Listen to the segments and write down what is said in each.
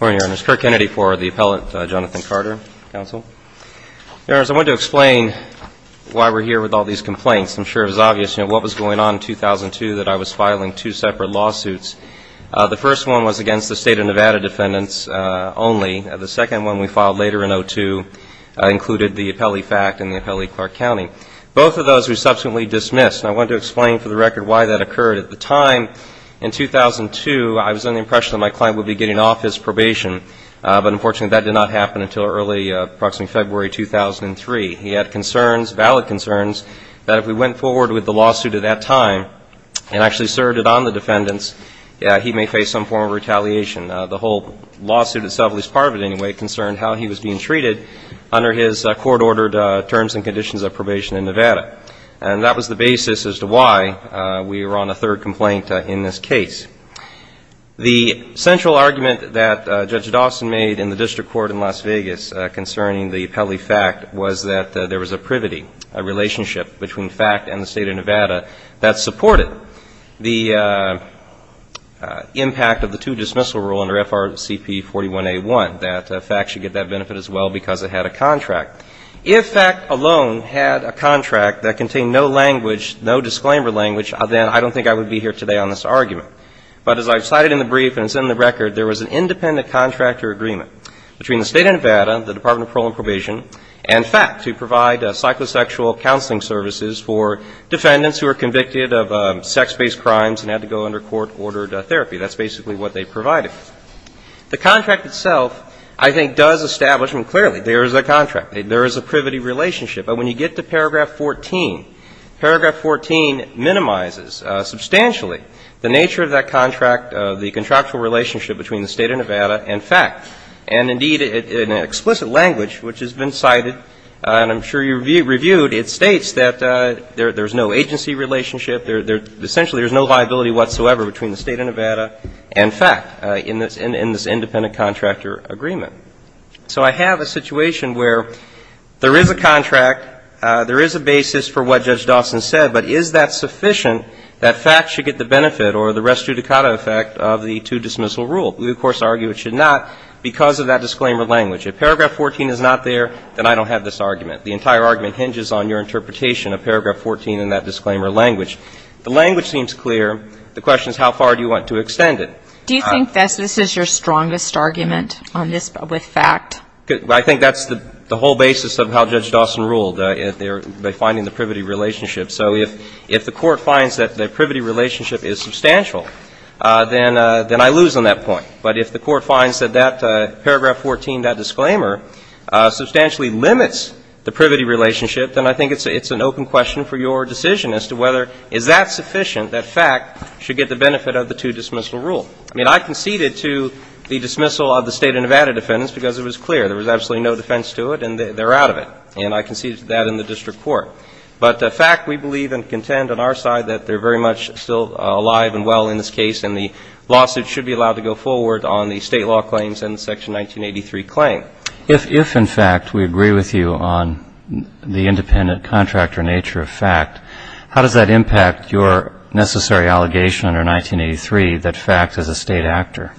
Court, your Honor. It's Kirk Kennedy for the appellate, Jonathan Carter, counsel. Your Honors, I want to explain why we're here with all these complaints. I'm sure it was obvious, you know, what was going on in 2002 that I was filing two separate lawsuits. The first one was against the State of Nevada defendants only. The second one we filed later in 2002 included the Apelli fact and the Apelli-Clark County. Both of those were subsequently dismissed. And I want to explain for the record why that occurred. At the time in 2002, I was under the impression that my client would be getting off his probation. But unfortunately, that did not happen until early, approximately February 2003. He had concerns, valid concerns, that if we went forward with the lawsuit at that time and actually served it on the defendants, yeah, he may face some form of retaliation. The whole lawsuit itself, at least part of it anyway, concerned how he was being treated under his court ordered terms and conditions of probation in Nevada. And that was the We were on a third complaint in this case. The central argument that Judge Dawson made in the district court in Las Vegas concerning the Apelli fact was that there was a privity, a relationship between fact and the State of Nevada that supported the impact of the two-dismissal rule under FRCP 41A1, that fact should get that benefit as well because it had a contract. If fact alone had a contract that I don't think I would be here today on this argument. But as I cited in the brief and it's in the record, there was an independent contractor agreement between the State of Nevada, the Department of Parole and Probation, and fact to provide psychosexual counseling services for defendants who are convicted of sex-based crimes and had to go under court ordered therapy. That's basically what they provided. The contract itself, I think, does establish, and clearly, there is a contract. There is a privity relationship. But when you get to paragraph 14, paragraph 14 minimizes substantially the nature of that contract, the contractual relationship between the State of Nevada and fact. And indeed, in explicit language, which has been cited, and I'm sure you reviewed, it states that there is no agency relationship. Essentially, there is no viability whatsoever between the State of Nevada and fact in this independent contractor agreement. So I have a situation where there is a contract, there is a basis for what Judge Dawson said, but is that sufficient that fact should get the benefit or the res judicata effect of the two-dismissal rule? We, of course, argue it should not because of that disclaimer language. If paragraph 14 is not there, then I don't have this argument. The entire argument hinges on your interpretation of paragraph 14 and that disclaimer language. The language seems clear. The question is how far do you want to extend it? Do you think this is your strongest argument on this with fact? I think that's the whole basis of how Judge Dawson ruled, by finding the privity relationship. So if the Court finds that the privity relationship is substantial, then I lose on that point. But if the Court finds that that paragraph 14, that disclaimer, substantially limits the privity relationship, then I think it's an open question for your decision as to whether is that sufficient that fact should get the benefit of the two-dismissal rule. I mean, I conceded to the dismissal of the State of Nevada defendants because it was clear. There was absolutely no defense to it, and they're out of it. And I conceded to that in the district court. But fact, we believe and contend on our side that they're very much still alive and well in this case, and the lawsuit should be allowed to go forward on the State law claims and the Section 1983 claim. If, in fact, we agree with you on the independent contractor nature of fact, how does that impact your necessary allegation under 1983 that fact is a State actor?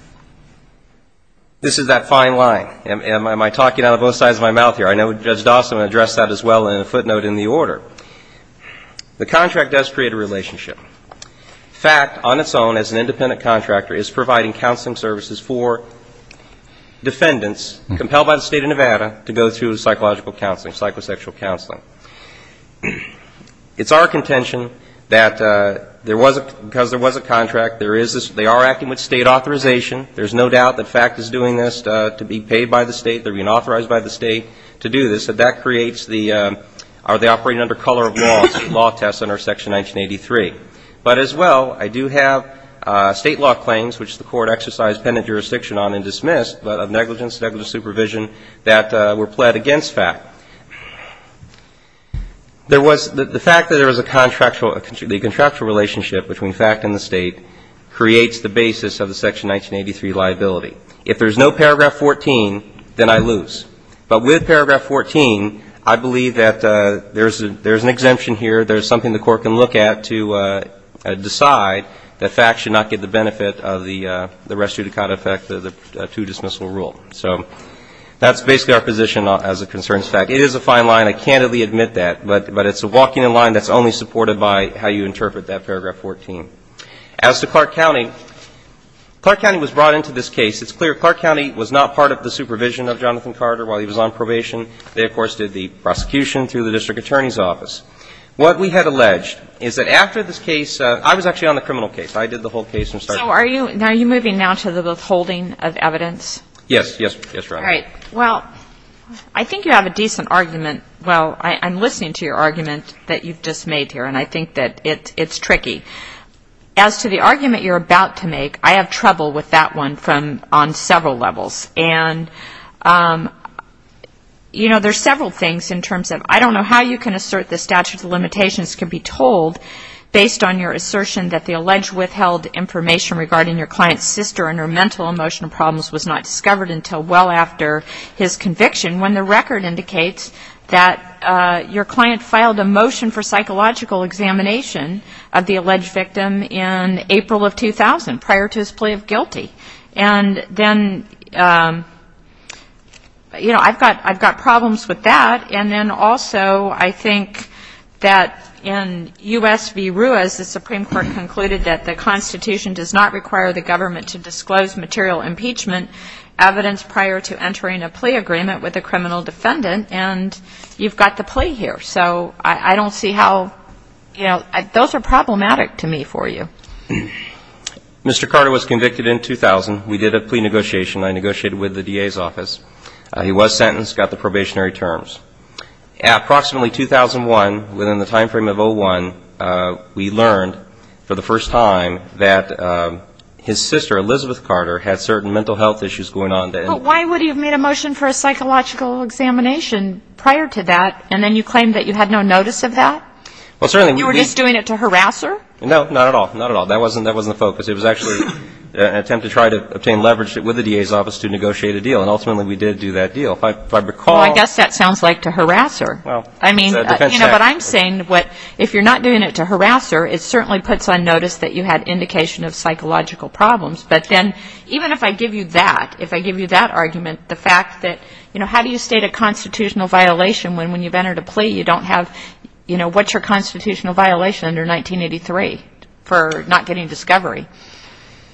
This is that fine line. Am I talking out of both sides of my mouth here? I know Judge Dawson addressed that as well in a footnote in the order. The contract does create a relationship. Fact, on its own, as an independent contractor, is providing counseling services for defendants compelled by the State of Nevada to go through psychological counseling, psychosexual counseling. It's our contention that because there was a contract, they are acting with State authorization. There's no doubt that fact is doing this to be paid by the State. They're being authorized by the State to do this. And that creates the, are they operating under color of law, the law test under Section 1983. But, as well, I do have State law claims, which the Court exercised penitent jurisdiction on and dismissed, but of negligence, negligent supervision that were pled against fact. There was, the fact that there was a contractual, the contractual relationship between fact and the State creates the basis of the Section 1983 liability. If there's no paragraph 14, then I lose. But with paragraph 14, I believe that there's an exemption here. There's something the Court can look at to decide that fact should not get the benefit of the restitute of conduct effect of the two-dismissal rule. So that's basically our position as it concerns fact. It is a fine line. I candidly admit that. But it's a walking in line that's only supported by how you interpret that paragraph 14. As to Clark County, Clark County was brought into this case. It's clear Clark County was not part of the supervision of Jonathan Carter while he was on probation. They, of course, did the prosecution through the District Attorney's Office. What we had alleged is that after this case, I was actually on the criminal case. I did the whole case and started it. So are you, are you moving now to the withholding of evidence? Yes. Yes. Yes, Your Honor. All right. Well, I think you have a decent argument. Well, I'm listening to your argument. It's tricky. As to the argument you're about to make, I have trouble with that one from, on several levels. And, you know, there's several things in terms of, I don't know how you can assert the statute of limitations can be told based on your assertion that the alleged withheld information regarding your client's sister and her mental and emotional problems was not discovered until well after his conviction, when the record indicates that your client filed a plea with the alleged victim in April of 2000, prior to his plea of guilty. And then, you know, I've got, I've got problems with that. And then also, I think that in U.S. v. Ruiz, the Supreme Court concluded that the Constitution does not require the government to disclose material impeachment evidence prior to entering a plea agreement with a criminal defendant. And you've got the plea here. So I don't see how, you know, those are problematic to me for you. Mr. Carter was convicted in 2000. We did a plea negotiation. I negotiated with the DA's office. He was sentenced, got the probationary terms. Approximately 2001, within the time frame of 01, we learned for the first time that his sister, Elizabeth Carter, had certain mental health issues going on. But why would he have made a motion for a psychological examination prior to that, and then you claim that you had no notice of that? Well, certainly we did. You were just doing it to harass her? No, not at all. Not at all. That wasn't the focus. It was actually an attempt to try to obtain leverage with the DA's office to negotiate a deal. And ultimately, we did do that deal. If I recall — Well, I guess that sounds like to harass her. Well, it's a defense tactic. I mean, you know, but I'm saying what, if you're not doing it to harass her, it certainly puts on notice that you had indication of psychological problems. But then, even if I give you that, if I give you that argument, the fact that, you know, how do you state a constitutional violation when, when you've entered a plea, you don't have — you know, what's your constitutional violation under 1983 for not getting discovery?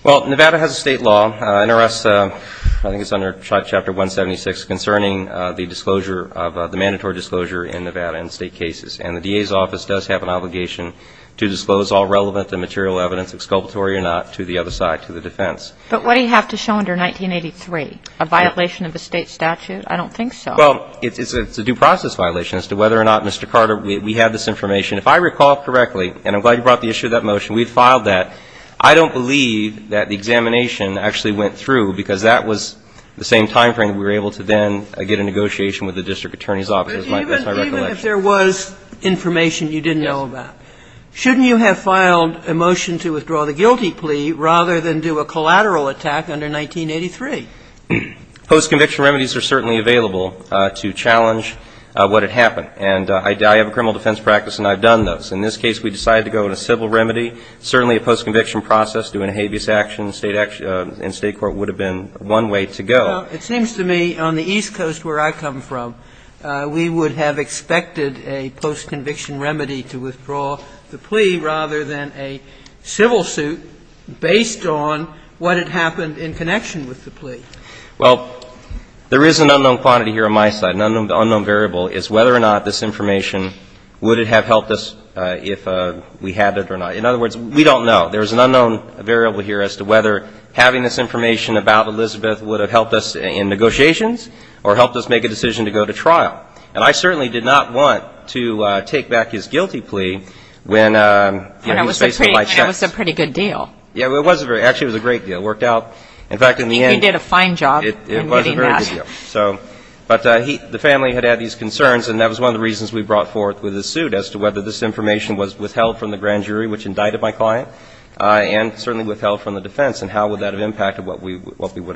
Well, Nevada has a state law, NRS — I think it's under Chapter 176 — concerning the disclosure of — the mandatory disclosure in Nevada in state cases. And the DA's office does have an obligation to disclose all relevant and material evidence, exculpatory or not, to the other side, to the defense. But what do you have to show under 1983? A violation of a state statute? I don't think so. Well, it's a due process violation as to whether or not, Mr. Carter, we have this information. If I recall correctly, and I'm glad you brought the issue of that motion, we've filed that. I don't believe that the examination actually went through, because that was the same timeframe that we were able to then get a negotiation with the district attorney's office. Even if there was information you didn't know about, shouldn't you have filed a motion to withdraw the guilty plea rather than do a collateral attack under 1983? Post-conviction remedies are certainly available to challenge what had happened. And I have a criminal defense practice, and I've done those. In this case, we decided to go with a civil remedy. Certainly, a post-conviction process, doing a habeas action in state court, would have been one way to go. Well, it seems to me, on the East Coast, where I come from, we would have expected a post-conviction remedy to withdraw the plea rather than a civil suit based on what had happened in connection with the plea. Well, there is an unknown quantity here on my side. An unknown variable is whether or not this information, would it have helped us if we had it or not. In other words, we don't know. There is an unknown variable here as to whether having this information about Elizabeth would have helped us in this case. And I think it's important to note that in this case, we did not want to take back his guilty plea when, you know, he was faced with life's checks. And it was a pretty good deal. Yeah, it was a very – actually, it was a great deal. It worked out. In fact, in the end – He did a fine job in getting that. It was a very good deal. So – but the family had had these concerns, and that was one of the reasons we brought forth with the suit as to whether this information was withheld from the grand jury, which indicted my client, and certainly But the other thing that I want to note is that this case is a case that I've been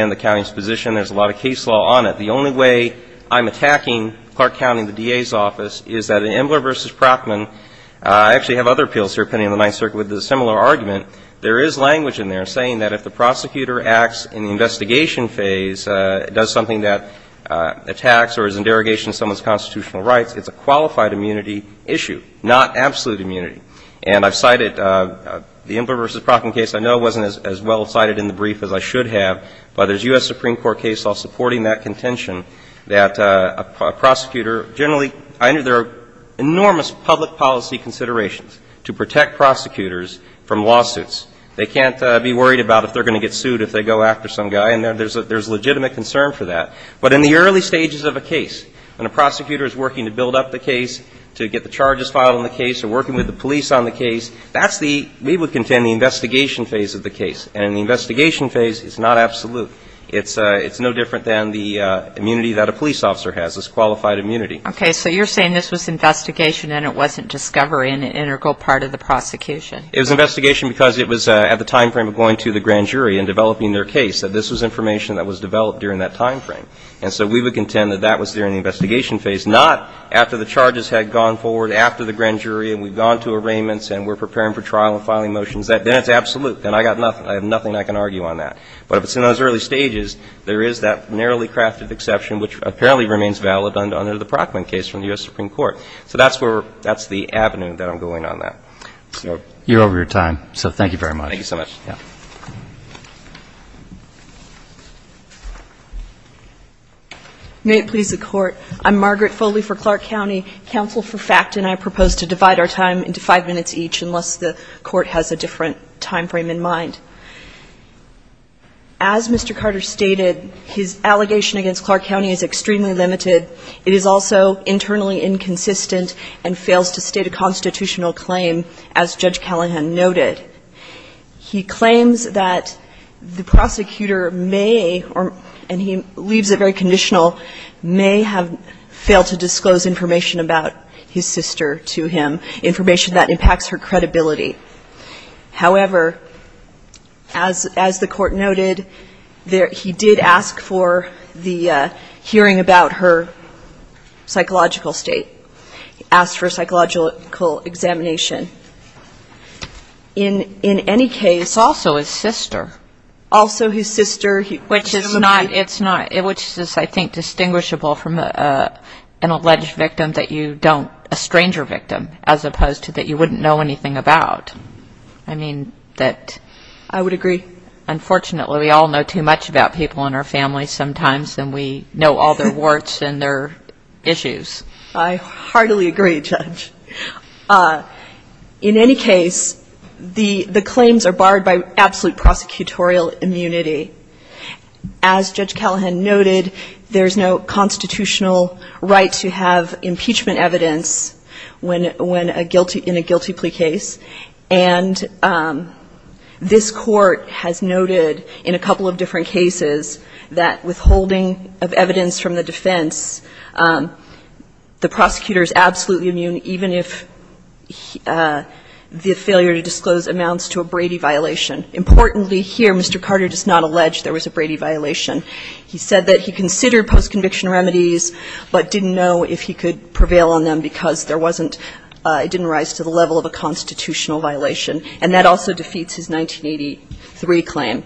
in the county's position. There's a lot of case law on it. The only way I'm attacking Clark County, the DA's office, is that in Embler v. Procman – I actually have other appeals here pending in the Ninth Circuit with a similar argument – there is language in there saying that if the prosecutor acts in the investigation phase, does something that attacks or is in derogation of someone's constitutional rights, it's a qualified immunity issue, not absolute immunity. And I've cited the Embler v. Procman case. I know it wasn't as well cited in the brief as I should have, but there's U.S. Supreme Court case law supporting that contention that a prosecutor – generally, I know there are enormous public policy considerations to protect prosecutors from lawsuits. They can't be worried about if they're going to get sued if they go after some guy, and there's legitimate concern for that. But in the early stages of a case, when a prosecutor is working to build up the police on the case, that's the – we would contend the investigation phase of the case. And in the investigation phase, it's not absolute. It's no different than the immunity that a police officer has, is qualified immunity. Okay. So you're saying this was investigation and it wasn't discovery and an integral part of the prosecution. It was investigation because it was at the timeframe of going to the grand jury and developing their case, that this was information that was developed during that timeframe. And so we would contend that that was during the investigation phase, not after the charges had gone forward after the grand jury and we've gone to arraignments and we're preparing for trial and filing motions, then it's absolute. Then I've got nothing – I have nothing I can argue on that. But if it's in those early stages, there is that narrowly crafted exception which apparently remains valid under the Brockman case from the U.S. Supreme Court. So that's where – that's the avenue that I'm going on that. So you're over your time. So thank you very much. Thank you so much. Yeah. May it please the Court. I'm Margaret Foley for Clark County. Counsel for FACT and I propose to divide our time into five minutes each unless the Court has a different timeframe in mind. As Mr. Carter stated, his allegation against Clark County is extremely limited. It is also internally inconsistent and fails to state a constitutional claim, as Judge Callahan noted. He claims that the prosecutor may, and he leaves it very conditional, may have failed to disclose information about his sister to him, information that impacts her credibility. However, as the Court noted, he did ask for the hearing about her psychological state, asked for psychological examination. In any case – Also his sister. Also his sister. Which is not – it's not – which is, I think, distinguishable from an alleged victim that you don't – a stranger victim as opposed to that you wouldn't know anything about. I mean that – I would agree. Unfortunately, we all know too much about people in our families sometimes and we know all their warts and their issues. I heartily agree, Judge. In any case, the claims are barred by absolute prosecutorial immunity. As Judge Callahan noted, there's no constitutional right to have impeachment evidence when a guilty – in a guilty plea case. And this Court has noted in a couple of different cases that withholding of evidence from the defense, the prosecutor's absolutely immune even if the failure to disclose amounts to a Brady violation. Importantly here, Mr. Carter does not allege there was a Brady violation. He said that he considered post-conviction remedies but didn't know if he could prevail on them because there wasn't – it didn't rise to the level of a constitutional violation. And that also defeats his 1983 claim.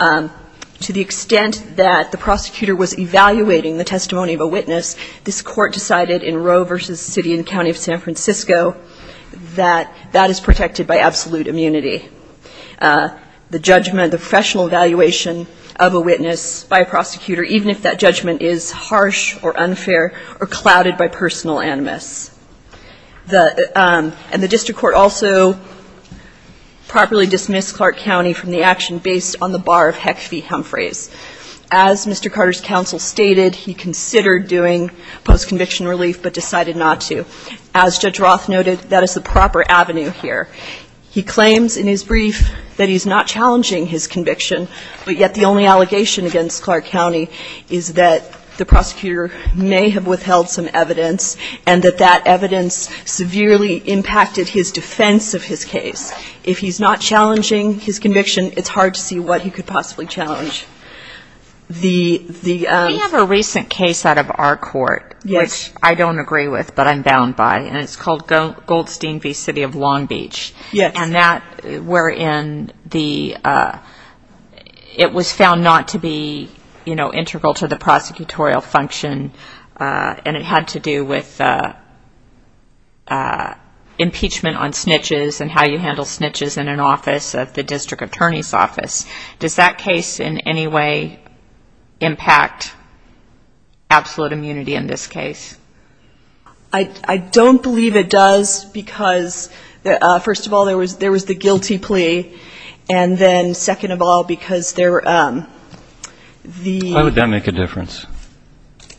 To the extent that the prosecutor was evaluating the testimony of a witness, this Court decided in Roe v. City and County of San Francisco that that is protected by absolute immunity. The judgment, the professional evaluation of a witness by a prosecutor, even if that judgment is harsh or unfair or clouded by personal animus. The – and the district court also properly dismissed Clark County from the action based on the bar of HEC v. Humphreys. As Mr. Carter's counsel stated, he considered doing post-conviction relief but decided not to. As Judge Roth noted, that is the proper avenue here. He claims in his brief that he's not challenging his conviction, but yet the only allegation against Clark County is that the prosecutor may have withheld some evidence and that that evidence severely impacted his defense of his case. If he's not challenging his conviction, it's hard to see what he could possibly challenge. The – We have a recent case out of our court, which I don't agree with but I'm bound by, and it's called Goldstein v. City of Long Beach. Yes. And that – wherein the – it was found not to be, you know, integral to the impeachment on snitches and how you handle snitches in an office of the district attorney's office. Does that case in any way impact absolute immunity in this case? I don't believe it does because, first of all, there was the guilty plea, and then second of all, because there – Why would that make a difference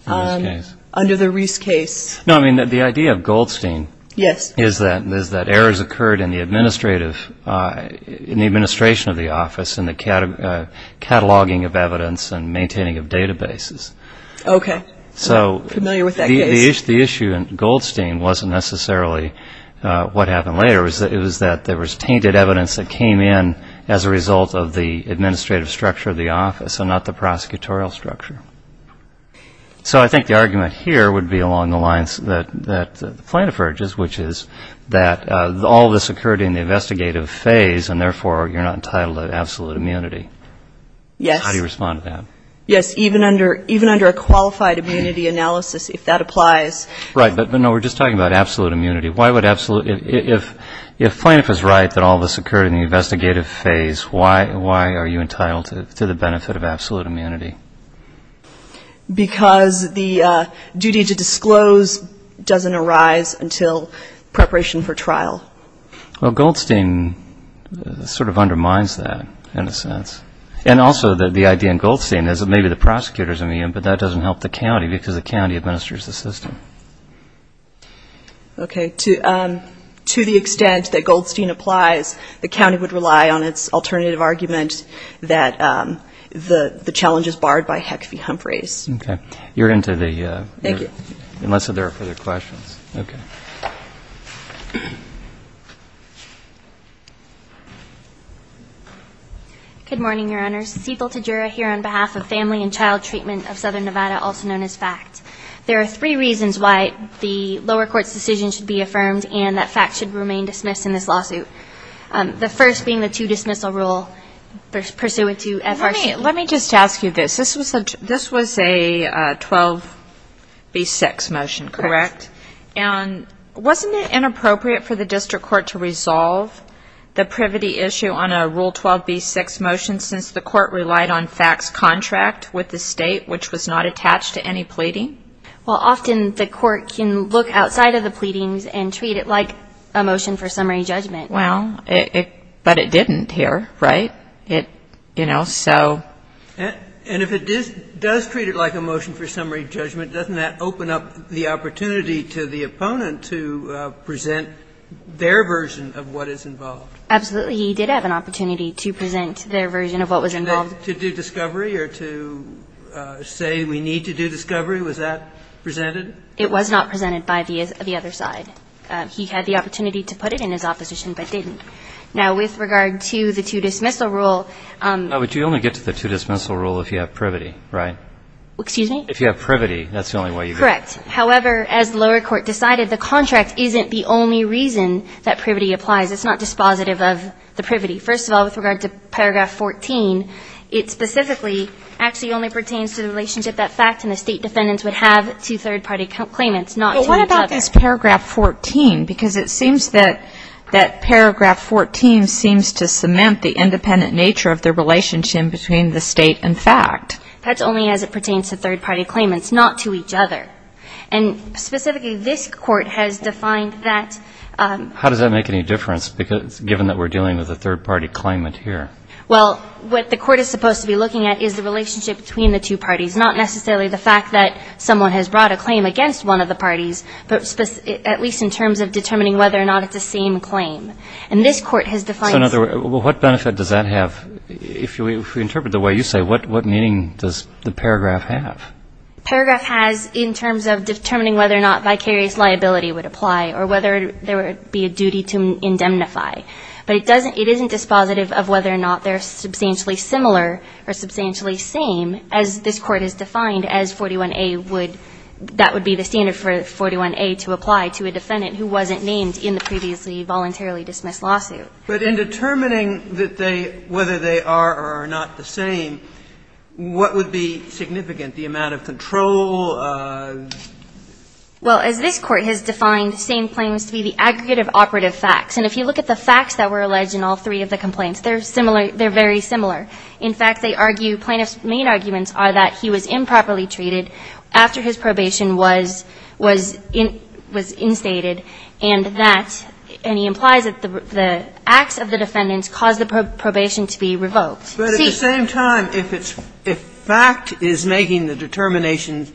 in this case? Under the Reese case. No, I mean, the idea of Goldstein – Yes. Is that errors occurred in the administrative – in the administration of the office and the cataloging of evidence and maintaining of databases. Okay. So – I'm familiar with that case. The issue in Goldstein wasn't necessarily what happened later. It was that there was tainted evidence that came in as a result of the administrative structure of the office and not the prosecutorial structure. So I think the argument here would be along the lines that Plaintiff urges, which is that all this occurred in the investigative phase, and therefore you're not entitled to absolute immunity. Yes. How do you respond to that? Yes. Even under a qualified immunity analysis, if that applies – Right. But, no, we're just talking about absolute immunity. Why would absolute – if Plaintiff is right that all this occurred in the investigative phase, why are you entitled to the benefit of absolute immunity? Because the duty to disclose doesn't arise until preparation for trial. Well, Goldstein sort of undermines that in a sense. And also the idea in Goldstein is that maybe the prosecutor is immune, but that doesn't help the county because the county administers the system. Okay. To the extent that Goldstein applies, the county would rely on its alternative argument that the challenge is barred by HEC-V Humphreys. Okay. You're into the – Thank you. Unless there are further questions. Okay. Good morning, Your Honors. Cethal Tadjura here on behalf of Family and Child Treatment of Southern Nevada, also known as FACT. There are three reasons why the lower court's decision should be affirmed and that FACT should remain dismissed in this lawsuit. The first being the two-dismissal rule pursuant to FRC. Let me just ask you this. This was a 12B6 motion, correct? Correct. And wasn't it inappropriate for the district court to resolve the privity issue on a Rule 12B6 motion since the court relied on FACT's contract with the state, which was not attached to any pleading? Well, often the court can look outside of the pleadings and treat it like a motion for summary judgment. Well, but it didn't here, right? You know, so. And if it does treat it like a motion for summary judgment, doesn't that open up the opportunity to the opponent to present their version of what is involved? Absolutely. He did have an opportunity to present their version of what was involved. And then to do discovery or to say we need to do discovery, was that presented? It was not presented by the other side. He had the opportunity to put it in his opposition, but didn't. Now, with regard to the two-dismissal rule. But you only get to the two-dismissal rule if you have privity, right? Excuse me? If you have privity, that's the only way you get it. Correct. However, as the lower court decided, the contract isn't the only reason that privity applies. It's not dispositive of the privity. First of all, with regard to paragraph 14, it specifically actually only pertains to the relationship that FACT and the state defendants would have to third-party claimants, not to each other. What is paragraph 14? Because it seems that paragraph 14 seems to cement the independent nature of the relationship between the state and FACT. That's only as it pertains to third-party claimants, not to each other. And specifically, this Court has defined that. How does that make any difference, given that we're dealing with a third-party claimant here? Well, what the Court is supposed to be looking at is the relationship between the two parties, not necessarily the fact that someone has brought a claim against one of the parties, but at least in terms of determining whether or not it's the same claim. And this Court has defined... So, in other words, what benefit does that have? If we interpret it the way you say, what meaning does the paragraph have? Paragraph has in terms of determining whether or not vicarious liability would apply or whether there would be a duty to indemnify. But it doesn't, it isn't dispositive of whether or not they're substantially similar or substantially same, as this Court has defined as 41A would, that would be the standard for 41A to apply to a defendant who wasn't named in the previously voluntarily dismissed lawsuit. But in determining that they – whether they are or are not the same, what would be significant? The amount of control? Well, as this Court has defined, same claims to be the aggregate of operative facts. And if you look at the facts that were alleged in all three of the complaints, they're similar – they're very similar. In fact, they argue plaintiffs' main arguments are that he was improperly charged, that the probation was – was instated, and that – and he implies that the acts of the defendants caused the probation to be revoked. See? But at the same time, if it's – if fact is making the determination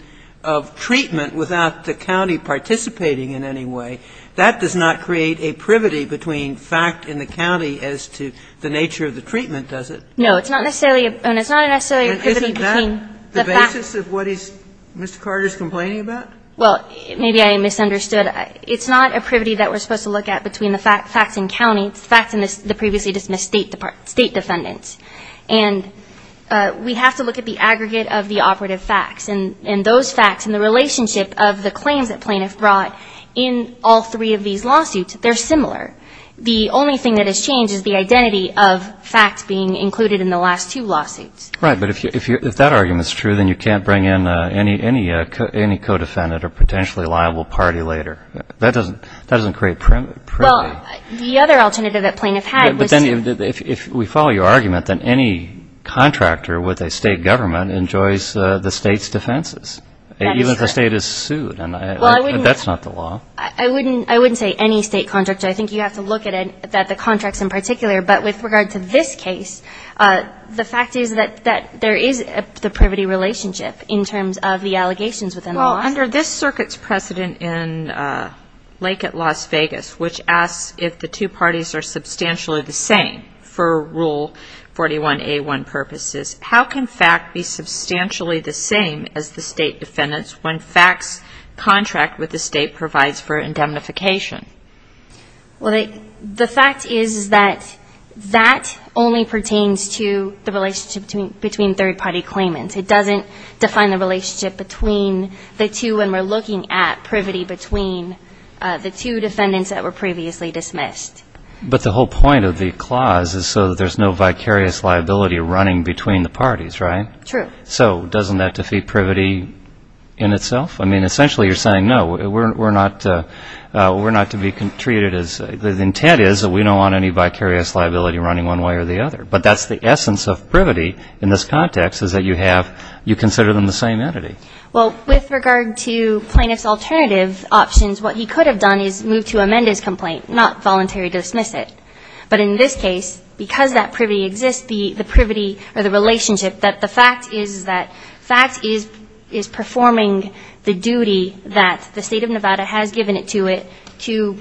of treatment without the county participating in any way, that does not create a privity between fact and the county as to the nature of the treatment, does it? No. It's not necessarily a – and it's not necessarily a privity between the facts. Is this the basis of what he's – Mr. Carter's complaining about? Well, maybe I misunderstood. It's not a privity that we're supposed to look at between the facts and county. It's the facts and the previously dismissed state defendants. And we have to look at the aggregate of the operative facts. And those facts and the relationship of the claims that plaintiffs brought in all three of these lawsuits, they're similar. The only thing that has changed is the identity of facts being included in the last two lawsuits. Right. But if that argument's true, then you can't bring in any co-defendant or potentially liable party later. That doesn't create privity. Well, the other alternative that plaintiffs had was to – But then if we follow your argument, then any contractor with a state government enjoys the state's defenses. That is true. Even if the state is sued. Well, I wouldn't – That's not the law. I wouldn't say any state contractor. I think you have to look at the contracts in particular. But with regard to this case, the fact is that there is the privity relationship in terms of the allegations within the law. Well, under this circuit's precedent in Lake at Las Vegas, which asks if the two parties are substantially the same for Rule 41A1 purposes, how can fact be substantially the same as the state defendants when fact's contract with the state provides for indemnification? Well, the fact is that that only pertains to the relationship between third-party claimants. It doesn't define the relationship between the two when we're looking at privity between the two defendants that were previously dismissed. But the whole point of the clause is so that there's no vicarious liability running between the parties, right? True. So doesn't that defeat privity in itself? I mean, essentially you're saying, no, we're not to be treated as, the intent is that we don't want any vicarious liability running one way or the other. But that's the essence of privity in this context is that you have, you consider them the same entity. Well, with regard to plaintiff's alternative options, what he could have done is move to amend his complaint, not voluntary dismiss it. But in this case, because that privity exists, the privity or the relationship that the fact is that FACT is performing the duty that the State of Nevada has given it to it to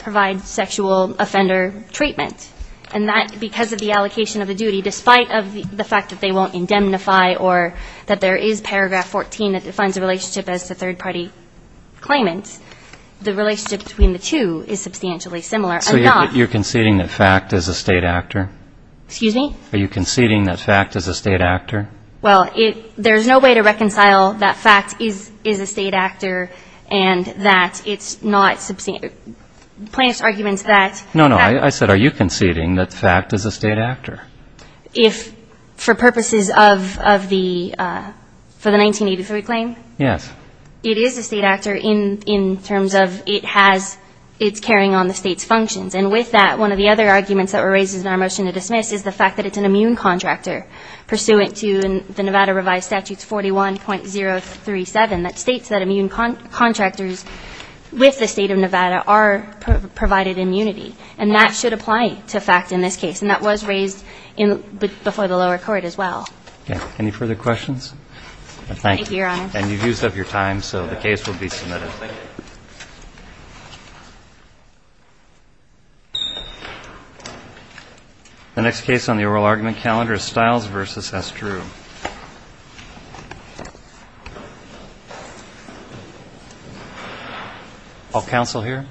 provide sexual offender treatment. And that, because of the allocation of the duty, despite of the fact that they won't indemnify or that there is paragraph 14 that defines the relationship as to third-party claimants, the relationship between the two is substantially similar. So you're conceding that FACT is a State actor? Excuse me? Are you conceding that FACT is a State actor? Well, it, there's no way to reconcile that FACT is a State actor and that it's not, plaintiff's argument is that. No, no, I said are you conceding that FACT is a State actor? If, for purposes of the, for the 1983 claim? Yes. It is a State actor in terms of it has, it's carrying on the State's functions. And with that, one of the other arguments that were raised in our motion to submit is that it's an immune contractor, pursuant to the Nevada revised statutes 41.037 that states that immune contractors with the State of Nevada are provided immunity. And that should apply to FACT in this case. And that was raised in, before the lower court as well. Okay. Any further questions? Thank you. Thank you, Your Honor. And you've used up your time, so the case will be submitted. Thank you. Thank you. The next case on the oral argument calendar is Stiles v. Estrue. All counsel here?